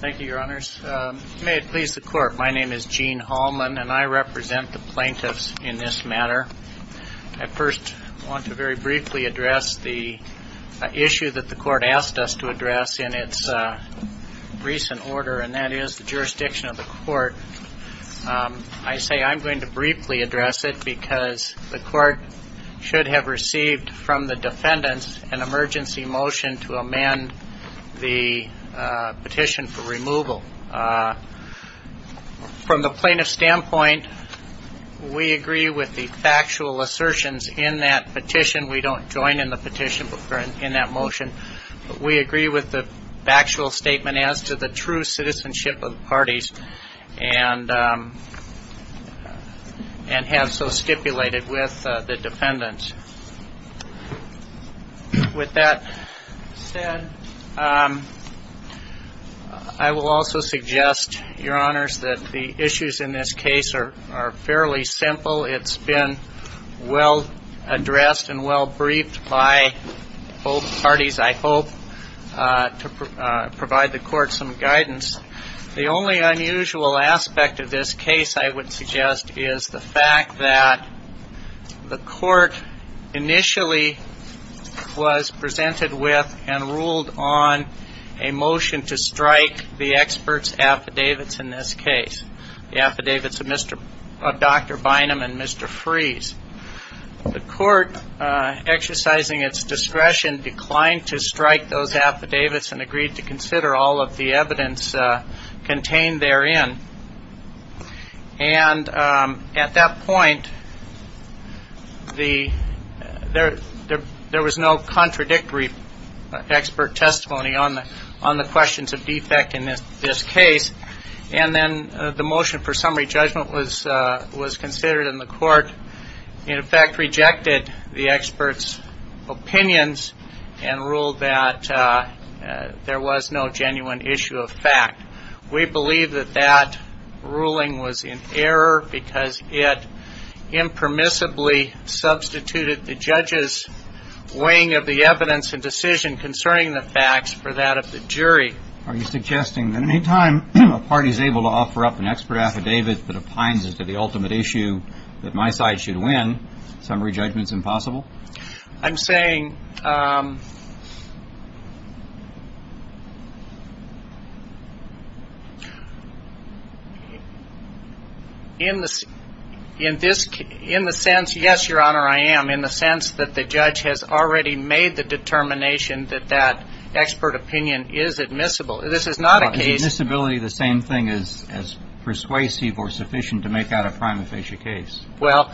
Thank you, Your Honors. May it please the Court, my name is Gene Hallman and I represent the plaintiffs in this matter. I first want to very briefly address the issue that the Court asked us to address in its recent order and that is the jurisdiction of the Court. I say I'm going to briefly address it because the Court should have received from the defendants an emergency motion to amend the petition for removal. From the plaintiff's standpoint, we agree with the factual assertions in that petition. We don't join in the petition in that motion, but we agree with the factual statement as to the true citizenship of the defendant. With that said, I will also suggest, Your Honors, that the issues in this case are fairly simple. It's been well addressed and well briefed by both parties, I hope, to provide the Court some guidance. The only unusual aspect of this case, I would suggest, is the fact that the Court initially was presented with and ruled on a motion to strike the experts' affidavits in this case, the affidavits of Dr. Bynum and Mr. Freeze. The Court, exercising its discretion, declined to strike those affidavits and agreed to consider all of the evidence contained therein. At that point, there was no contradictory expert testimony on the questions of defect in this case. The motion for summary judgment was considered in the Court, in effect We believe that that ruling was in error because it impermissibly substituted the judge's weighing of the evidence and decision concerning the facts for that of the jury. Are you suggesting that any time a party is able to offer up an expert affidavit that opines as to the ultimate issue that my side should win, summary judgment is impossible? I'm saying, in the sense, yes, Your Honor, I am, in the sense that the judge has already made the determination that that expert opinion is admissible. This is not a case Is admissibility the same thing as persuasive or sufficient to make out a prima facie case? Well,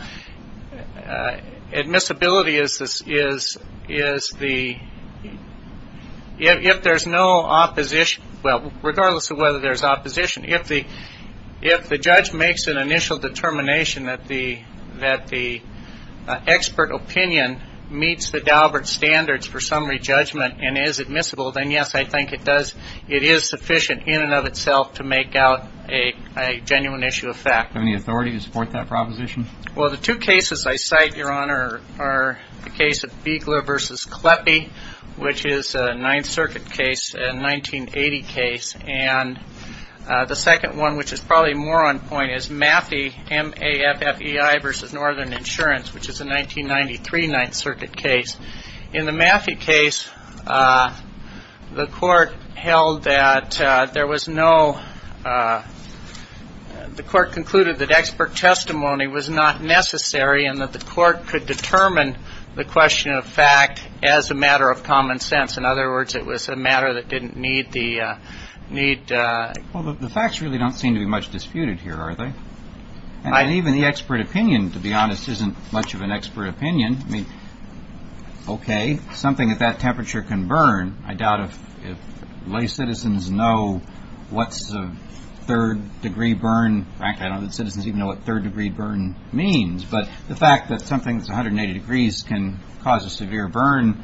admissibility is the, if there's no opposition, well, regardless of whether there's opposition, if the judge makes an initial determination that the expert opinion meets the Daubert standards for summary judgment and is admissible, then yes, I think it does, it is sufficient in and of itself to make out a genuine issue of fact. Do you have any authority to support that proposition? Well, the two cases I cite, Your Honor, are the case of Beigler v. Kleppe, which is a Ninth Circuit case, a 1980 case, and the second one, which is probably more on point, is Maffie, M-A-F-F-E-I v. Northern Insurance, which is a 1993 Ninth Circuit case. In the Maffie case, the court held that there was no, the court concluded that expert testimony was not necessary and that the court could determine the question of fact as a matter of common sense. In other words, it was a matter that didn't need the, need... Well, the facts really don't seem to be much disputed here, are they? Even the expert opinion, to be honest, isn't much of an expert opinion. I mean, okay, something at that temperature can burn. I doubt if lay citizens know what's a third-degree burn. In fact, I don't think citizens even know what third-degree burn means. But the fact that something that's 180 degrees can cause a severe burn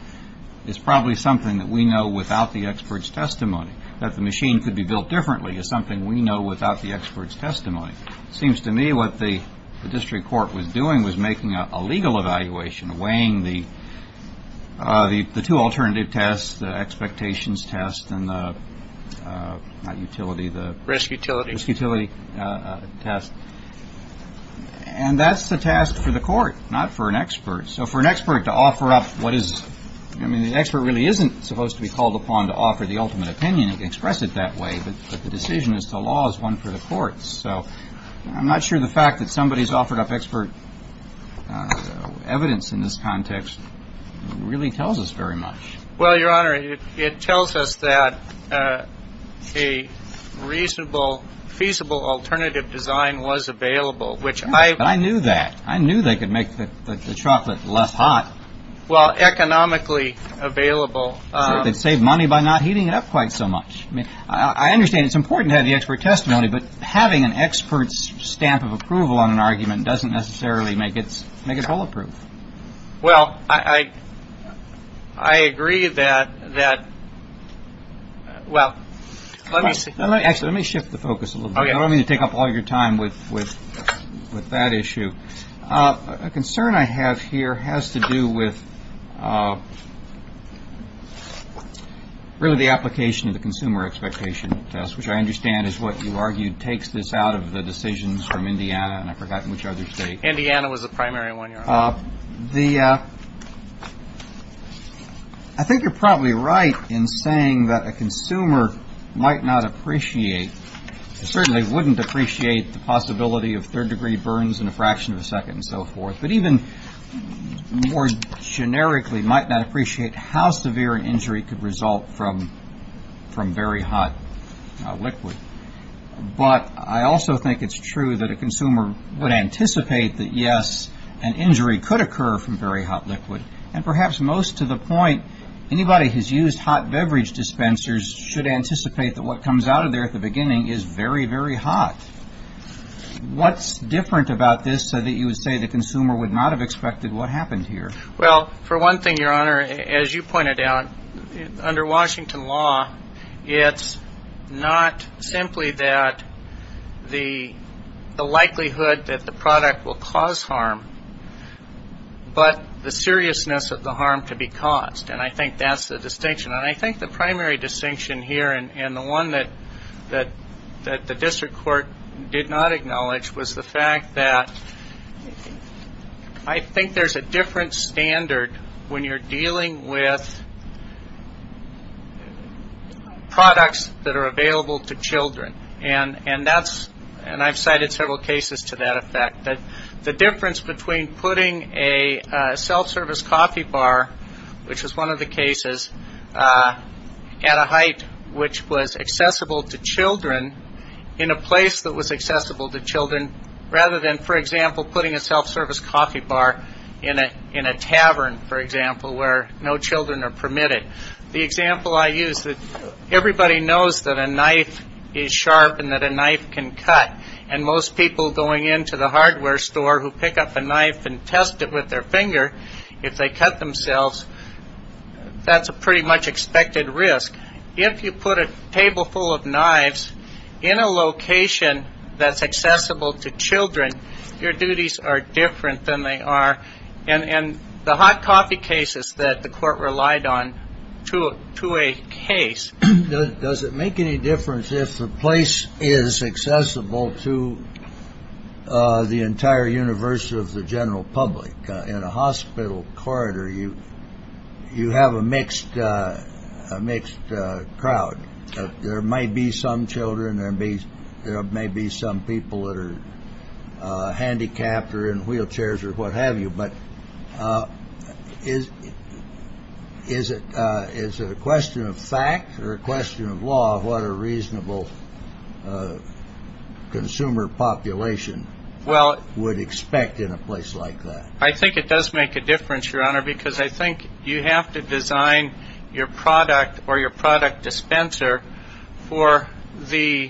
is probably something that we know without the expert's testimony, that the machine could be built differently is something we know without the expert's testimony. It seems to me what the district court was doing was making a legal evaluation, weighing the two alternative tests, the expectations test and the, not utility, the... Risk utility. Risk utility test. And that's the task for the court, not for an expert. So for an expert to offer up what is, I mean, the expert really isn't supposed to be called upon to offer the ultimate opinion and express it that way, but the decision is the law is one for the courts. So I'm not sure the fact that somebody's offered up expert evidence in this context really tells us very much. Well, Your Honor, it tells us that a reasonable, feasible alternative design was available, which I... I knew that. I knew they could make the chocolate less hot. Well, economically available. They'd save money by not heating it up quite so much. I understand it's important to have the expert testimony, but having an expert's stamp of approval on an argument doesn't necessarily make it all approved. Well, I agree that, well, let me see. Actually, let me shift the focus a little bit. I don't mean to take up all your time with that issue. A concern I have here has to do with really the application of the consumer expectation test, which I understand is what you argued takes this out of the decisions from Indiana, and I forgot which other state. Indiana was the primary one, Your Honor. I think you're probably right in saying that a consumer might not appreciate, certainly wouldn't appreciate the possibility of third-degree burns in a fraction of a second and so forth, but even more generically might not appreciate how severe an injury could result from very hot liquid. But I also think it's true that a consumer would anticipate that, yes, an injury could occur from very hot liquid, and perhaps most to the point, anybody who has used hot beverage dispensers should anticipate that what comes out of there at the beginning is very, very hot. What's different about this so that you would say the consumer would not have expected what happened here? Well, for one thing, Your Honor, as you pointed out, under Washington law, it's not simply that the likelihood that the product will cause harm, but the seriousness of the harm to be caused. And I think that's the distinction. And I think the primary distinction here, and the one that the district court did not acknowledge, was the fact that I think there's a different standard when you're dealing with products that are available to children. And I've cited several cases to that effect. The difference between putting a self-service coffee bar, which is one of the cases, at a height which was accessible to children in a place that was accessible to children, rather than, for example, putting a self-service coffee bar in a tavern, for example, where no children are permitted. The example I use, everybody knows that a knife is sharp and that a knife can cut. And most people going into the hardware store who pick up a knife and test it with their finger, if they cut themselves, that's a pretty much expected risk. If you put a table full of knives in a location that's accessible to children, your duties are different than they are. And the hot coffee cases that the court relied on to a case. Does it make any difference if the place is accessible to the entire universe of the general public? In a hospital corridor, you have a mixed crowd. There might be some children, there may be some people that are handicapped or in wheelchairs or what have you. But is it a question of fact or a question of law of what a reasonable consumer population would expect in a place like that? I think it does make a difference, Your Honor, because I think you have to design your product or your product dispenser for the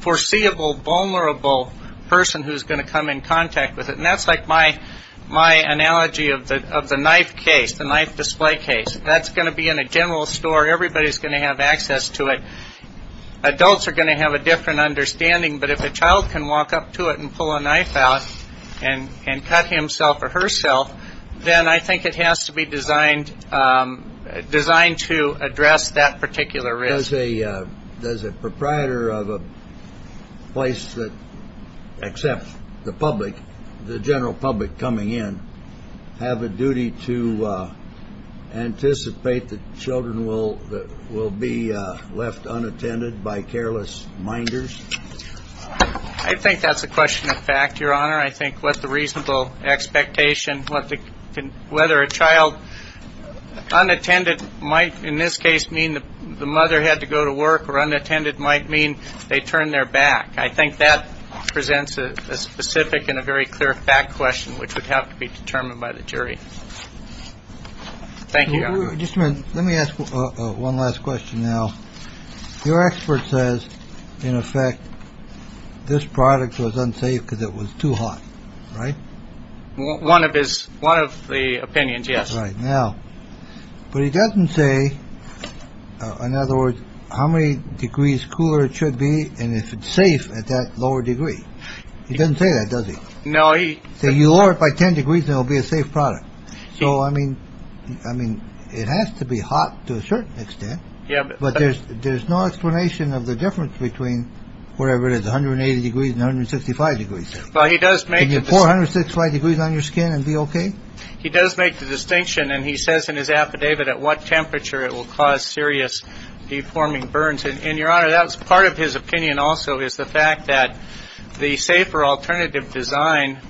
foreseeable vulnerable person who's going to come in contact with it. And that's like my analogy of the knife case, the knife display case. That's going to be in a general store. Everybody's going to have access to it. Adults are going to have a different understanding. But if a child can walk up to it and pull a knife out and cut himself or herself, then I think it has to be designed to address that particular risk. Does a proprietor of a place that accepts the public, the general public coming in, have a duty to anticipate that children will be left unattended by careless minders? I think that's a question of fact, Your Honor. I think what the reasonable expectation, whether a child unattended might in this case mean the mother had to go to work or unattended might mean they turned their back. I think that presents a specific and a very clear fact question which would have to be determined by the jury. Thank you, Your Honor. One of his one of the opinions. Yes. Right now. But he doesn't say, in other words, how many degrees cooler it should be. And if it's safe at that lower degree, he doesn't say that, does he? No. So you are by 10 degrees. There'll be a safe product. So, I mean, I mean, it has to be hot to a certain extent. But there's there's no explanation of the difference between wherever it is. Under a degree. Sixty five degrees. Well, he does make four hundred six five degrees on your skin and be OK. He does make the distinction. And he says in his affidavit at what temperature it will cause serious deforming burns. And Your Honor, that's part of his opinion also is the fact that the safer alternative design.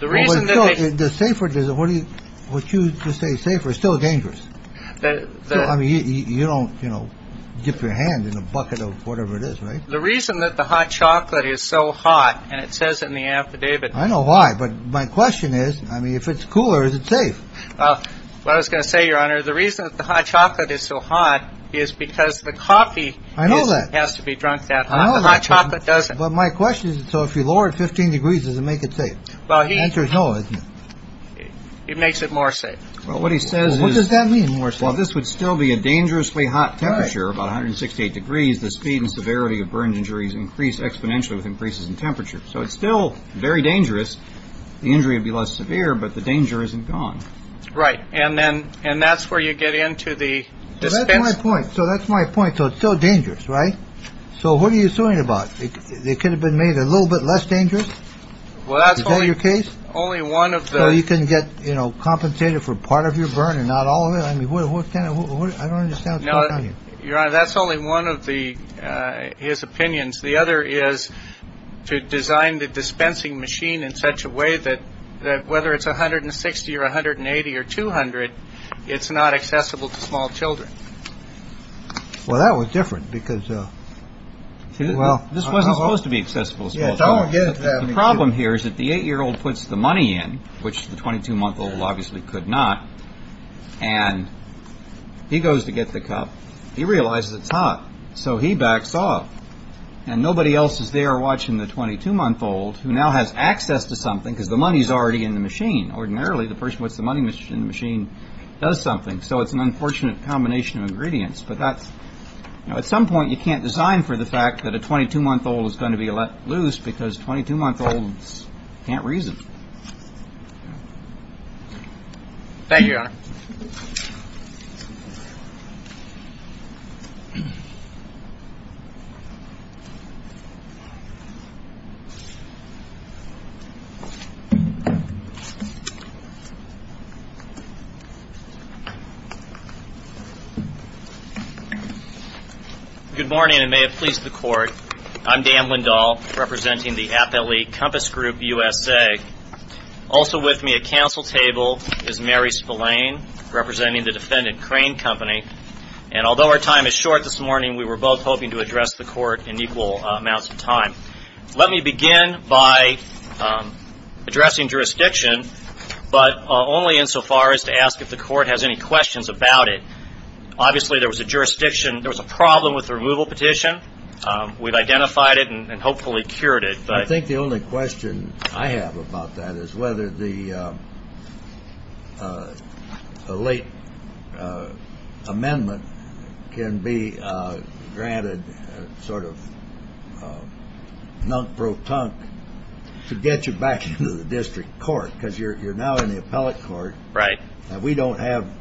The reason the safer or what you would choose to say safer is still dangerous. I mean, you don't, you know, dip your hand in a bucket of whatever it is. Right. The reason that the hot chocolate is so hot and it says in the affidavit. I know why. But my question is, I mean, if it's cooler, is it safe? Well, I was going to say, Your Honor, the reason that the hot chocolate is so hot is because the coffee. I know that has to be drunk that hot chocolate doesn't. But my question is, so if you lower it 15 degrees, does it make it safe? Well, he enters. No, it makes it more safe. Well, what he says, what does that mean? Well, this would still be a dangerously hot temperature, about 168 degrees. The speed and severity of burns injuries increase exponentially with increases in temperature. So it's still very dangerous. The injury would be less severe, but the danger isn't gone. Right. And then and that's where you get into the point. So that's my point. So it's so dangerous. Right. So what are you talking about? It could have been made a little bit less dangerous. Well, that's your case. Only one of you can get, you know, compensated for part of your burn and not all of it. I mean, what can I do? I don't understand. You're right. That's only one of the his opinions. The other is to design the dispensing machine in such a way that that whether it's 160 or 180 or 200, it's not accessible to small children. Well, that was different because, well, this wasn't supposed to be accessible. The problem here is that the eight year old puts the money in, which the 22 month old obviously could not. And he goes to get the cup. He realizes it's hot. So he backs off and nobody else is there watching the 22 month old who now has access to something because the money is already in the machine. Ordinarily, the person with the money in the machine does something. So it's an unfortunate combination of ingredients. At some point, you can't design for the fact that a 22 month old is going to be let loose because 22 month olds can't reason. Good morning and may it please the court. I'm Dan Lindahl representing the Appellee Compass Group USA. Also with me at council table is Mary Spillane representing the Defendant Crane Company. And although our time is short this morning, we were both hoping to address the court in equal amounts of time. Let me begin by addressing jurisdiction, but only insofar as to ask if the court has any questions about it. Obviously, there was a jurisdiction. There was a problem with the removal petition. We've identified it and hopefully cured it. I think the only question I have about that is whether the late amendment can be granted sort of nunk-pro-tunk to get you back into the district court. Because you're now in the appellate court. Right. We don't have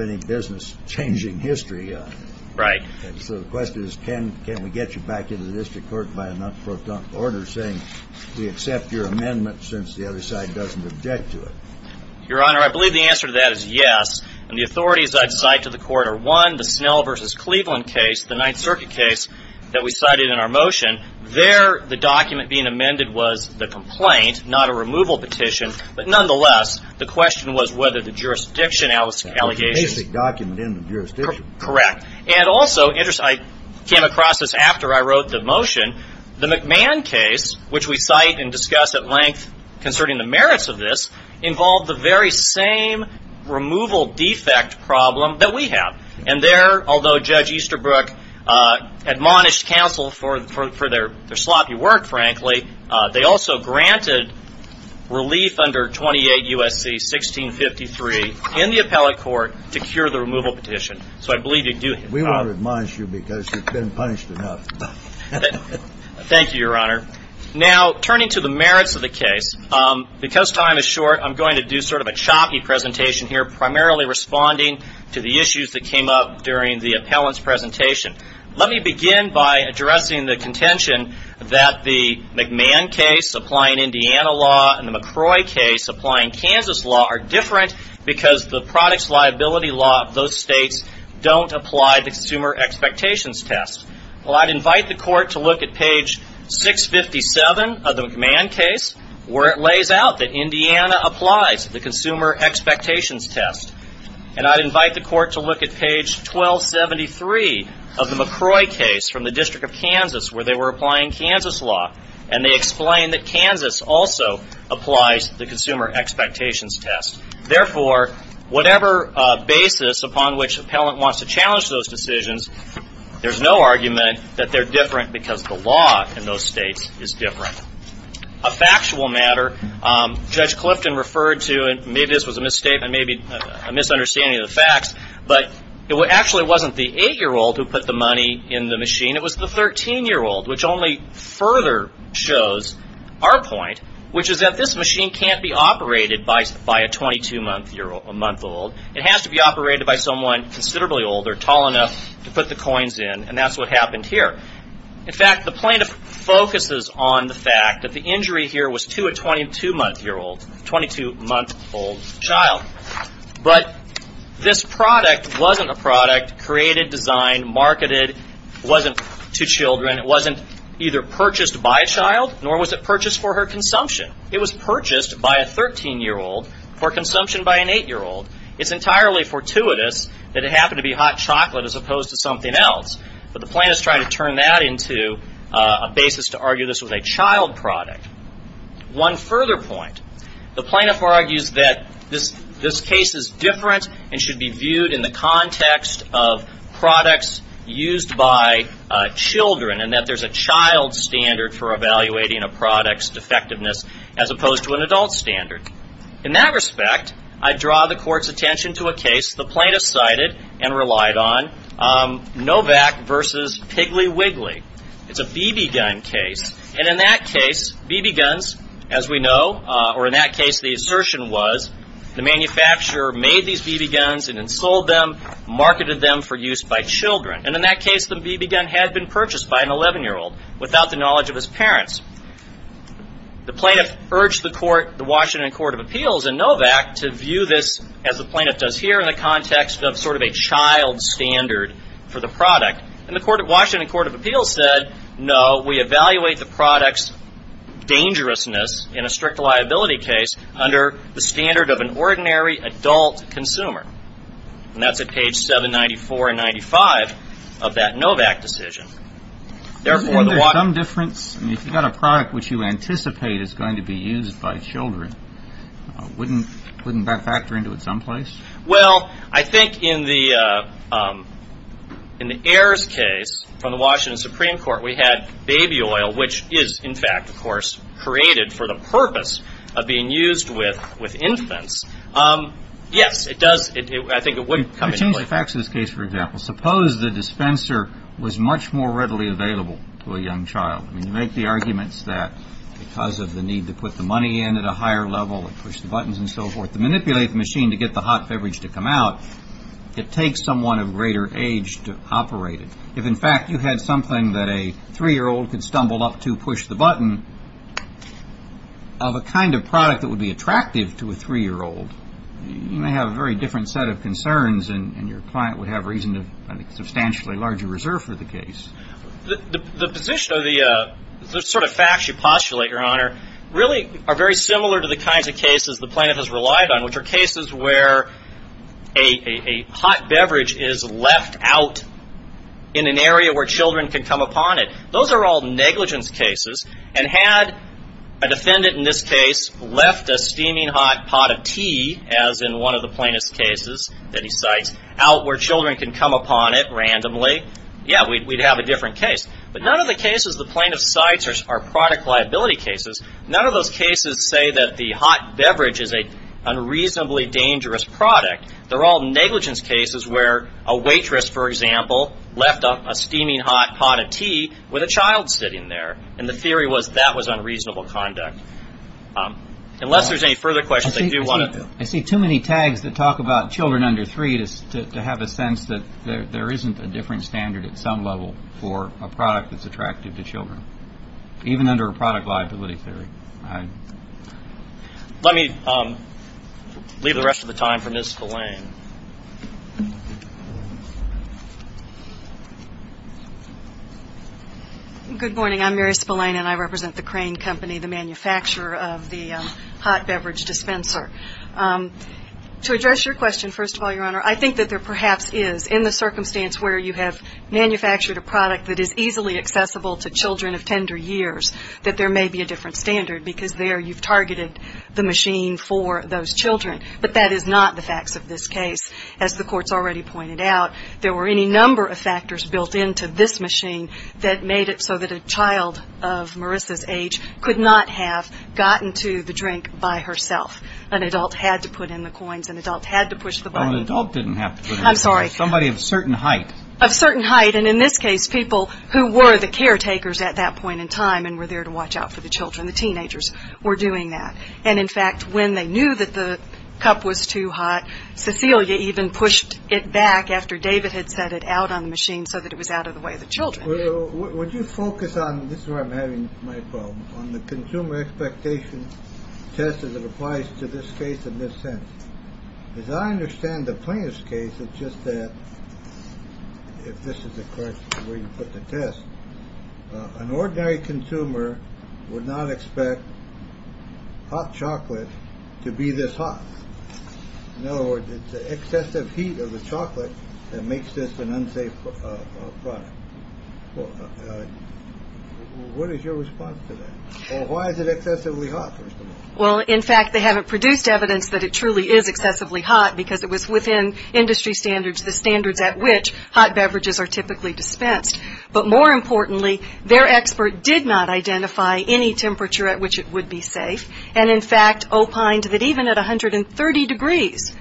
any business changing history. Right. So the question is can we get you back into the district court by a nunk-pro-tunk order saying we accept your amendment since the other side doesn't object to it? Your Honor, I believe the answer to that is yes. And the authorities I've cited to the court are one, the Snell v. Cleveland case, the Ninth Circuit case that we cited in our motion. There, the document being amended was the complaint, not a removal petition. But nonetheless, the question was whether the jurisdiction allegations. It was a basic document in the jurisdiction. Correct. And also, I came across this after I wrote the motion. The McMahon case, which we cite and discuss at length concerning the merits of this, involved the very same removal defect problem that we have. And there, although Judge Easterbrook admonished counsel for their sloppy work, frankly, they also granted relief under 28 U.S.C. 1653 in the appellate court to cure the removal petition. So I believe you do. We won't admonish you because you've been punished enough. Thank you, Your Honor. Now, turning to the merits of the case, because time is short, I'm going to do sort of a choppy presentation here, primarily responding to the issues that came up during the appellant's presentation. Let me begin by addressing the contention that the McMahon case, applying Indiana law, and the McCrory case, applying Kansas law, are different because the products liability law of those states don't apply the consumer expectations test. Well, I'd invite the court to look at page 657 of the McMahon case, where it lays out that Indiana applies the consumer expectations test. And I'd invite the court to look at page 1273 of the McCrory case from the District of Kansas, where they were applying Kansas law, and they explain that Kansas also applies the consumer expectations test. Therefore, whatever basis upon which the appellant wants to challenge those decisions, there's no argument that they're different because the law in those states is different. A factual matter, Judge Clifton referred to, and maybe this was a misstatement, maybe a misunderstanding of the facts, but it actually wasn't the 8-year-old who put the money in the machine. It was the 13-year-old, which only further shows our point, which is that this machine can't be operated by a 22-month-old. It has to be operated by someone considerably older, tall enough to put the coins in, and that's what happened here. In fact, the plaintiff focuses on the fact that the injury here was to a 22-month-old child. But this product wasn't a product created, designed, marketed. It wasn't to children. It wasn't either purchased by a child, nor was it purchased for her consumption. It was purchased by a 13-year-old for consumption by an 8-year-old. It's entirely fortuitous that it happened to be hot chocolate as opposed to something else, but the plaintiff's trying to turn that into a basis to argue this was a child product. One further point. The plaintiff argues that this case is different and should be viewed in the context of products used by children, and that there's a child standard for evaluating a product's defectiveness as opposed to an adult standard. In that respect, I draw the Court's attention to a case the plaintiff cited and relied on, Novak v. Piggly Wiggly. It's a BB gun case, and in that case, BB guns, as we know, or in that case, the assertion was, the manufacturer made these BB guns and then sold them, marketed them for use by children. And in that case, the BB gun had been purchased by an 11-year-old without the knowledge of his parents. The plaintiff urged the Washington Court of Appeals and Novak to view this as the plaintiff does here in the context of sort of a child standard for the product. And the Washington Court of Appeals said, no, we evaluate the product's dangerousness in a strict liability case under the standard of an ordinary adult consumer. And that's at page 794 and 95 of that Novak decision. Therefore, the water – I mean, isn't there some difference? I mean, if you've got a product which you anticipate is going to be used by children, wouldn't that factor into it someplace? Well, I think in the Ayers case from the Washington Supreme Court, we had baby oil, which is, in fact, of course, created for the purpose of being used with infants. Yes, it does – I think it would come into play. You change the facts of this case, for example. Suppose the dispenser was much more readily available to a young child. I mean, you make the arguments that because of the need to put the money in at a higher level and push the buttons and so forth to manipulate the machine to get the hot beverage to come out, it takes someone of greater age to operate it. If, in fact, you had something that a 3-year-old could stumble up to push the button, of a kind of product that would be attractive to a 3-year-old, you may have a very different set of concerns, and your client would have reason to have a substantially larger reserve for the case. The position or the sort of facts you postulate, Your Honor, really are very similar to the kinds of cases the plaintiff has relied on, which are cases where a hot beverage is left out in an area where children can come upon it. Those are all negligence cases. And had a defendant in this case left a steaming hot pot of tea, as in one of the plaintiff's cases that he cites, out where children can come upon it randomly, yeah, we'd have a different case. But none of the cases the plaintiff cites are product liability cases. None of those cases say that the hot beverage is an unreasonably dangerous product. They're all negligence cases where a waitress, for example, left a steaming hot pot of tea with a child sitting there, and the theory was that was unreasonable conduct. Unless there's any further questions, I do want to... standard at some level for a product that's attractive to children, even under a product liability theory. Let me leave the rest of the time for Ms. Spillane. Good morning. I'm Mary Spillane, and I represent the Crane Company, the manufacturer of the hot beverage dispenser. To address your question, first of all, Your Honor, I think that there perhaps is, in the circumstance where you have manufactured a product that is easily accessible to children of tender years, that there may be a different standard, because there you've targeted the machine for those children. But that is not the facts of this case. As the Court's already pointed out, there were any number of factors built into this machine that made it so that a child of Marissa's age could not have gotten to the drink by herself. An adult had to put in the coins. An adult had to push the button. An adult didn't have to put in the coins. I'm sorry. Somebody of certain height. Of certain height. And in this case, people who were the caretakers at that point in time and were there to watch out for the children, the teenagers, were doing that. And in fact, when they knew that the cup was too hot, Cecilia even pushed it back after David had set it out on the machine so that it was out of the way of the children. Would you focus on, this is where I'm having my problems, on the consumer expectation test as it applies to this case in this sense. As I understand the plaintiff's case, it's just that, if this is the correct way to put the test, an ordinary consumer would not expect hot chocolate to be this hot. In other words, it's the excessive heat of the chocolate that makes this an unsafe product. What is your response to that? Or why is it excessively hot, first of all? Well, in fact, they haven't produced evidence that it truly is excessively hot because it was within industry standards, the standards at which hot beverages are typically dispensed. But more importantly, their expert did not identify any temperature at which it would be safe. And in fact, opined that even at 130 degrees,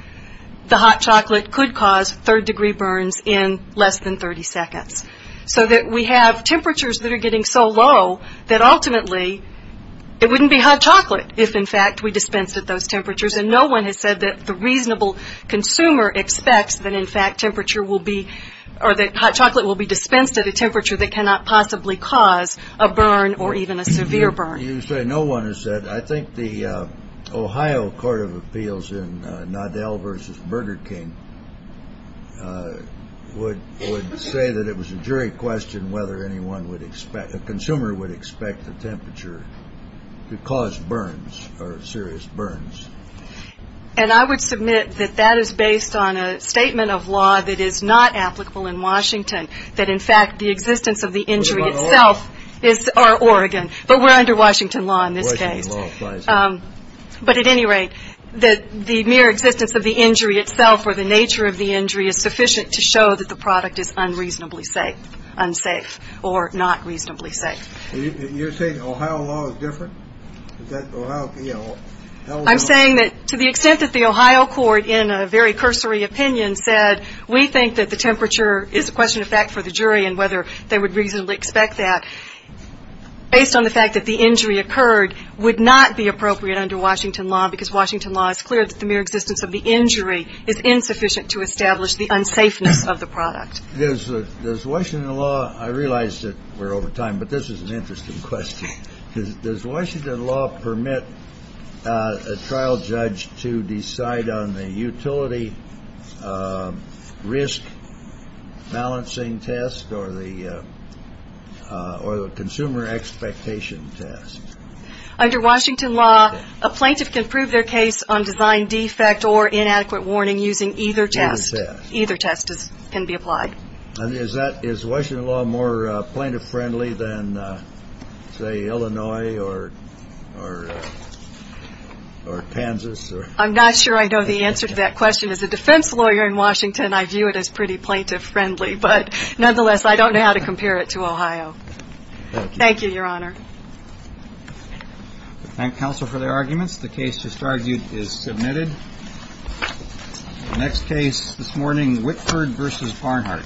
the hot chocolate could cause third-degree burns in less than 30 seconds. So that we have temperatures that are getting so low that ultimately it wouldn't be hot chocolate if, in fact, we dispensed at those temperatures. And no one has said that the reasonable consumer expects that, in fact, temperature will be, or that hot chocolate will be dispensed at a temperature that cannot possibly cause a burn or even a severe burn. You say no one has said. I think the Ohio Court of Appeals in Nadell v. Burger King would say that it was a jury question whether a consumer would expect the temperature to cause burns or serious burns. And I would submit that that is based on a statement of law that is not applicable in Washington, that, in fact, the existence of the injury itself is Oregon. But we're under Washington law in this case. But at any rate, the mere existence of the injury itself or the nature of the injury is sufficient to show that the product is unreasonably safe, unsafe, or not reasonably safe. You're saying Ohio law is different? I'm saying that to the extent that the Ohio court, in a very cursory opinion, said we think that the temperature is a question of fact for the jury and whether they would reasonably expect that. Based on the fact that the injury occurred would not be appropriate under Washington law because Washington law is clear that the mere existence of the injury is insufficient to establish the unsafeness of the product. Does Washington law – I realize that we're over time, but this is an interesting question. Does Washington law permit a trial judge to decide on the utility risk balancing test or the consumer expectation test? Under Washington law, a plaintiff can prove their case on design defect or inadequate warning using either test. Either test. Either test can be applied. Is Washington law more plaintiff-friendly than, say, Illinois or Kansas? I'm not sure I know the answer to that question. As a defense lawyer in Washington, I view it as pretty plaintiff-friendly. But nonetheless, I don't know how to compare it to Ohio. Thank you, Your Honor. Thank counsel for their arguments. The case to start is submitted. Next case this morning, Whitford v. Barnhart. Thank you.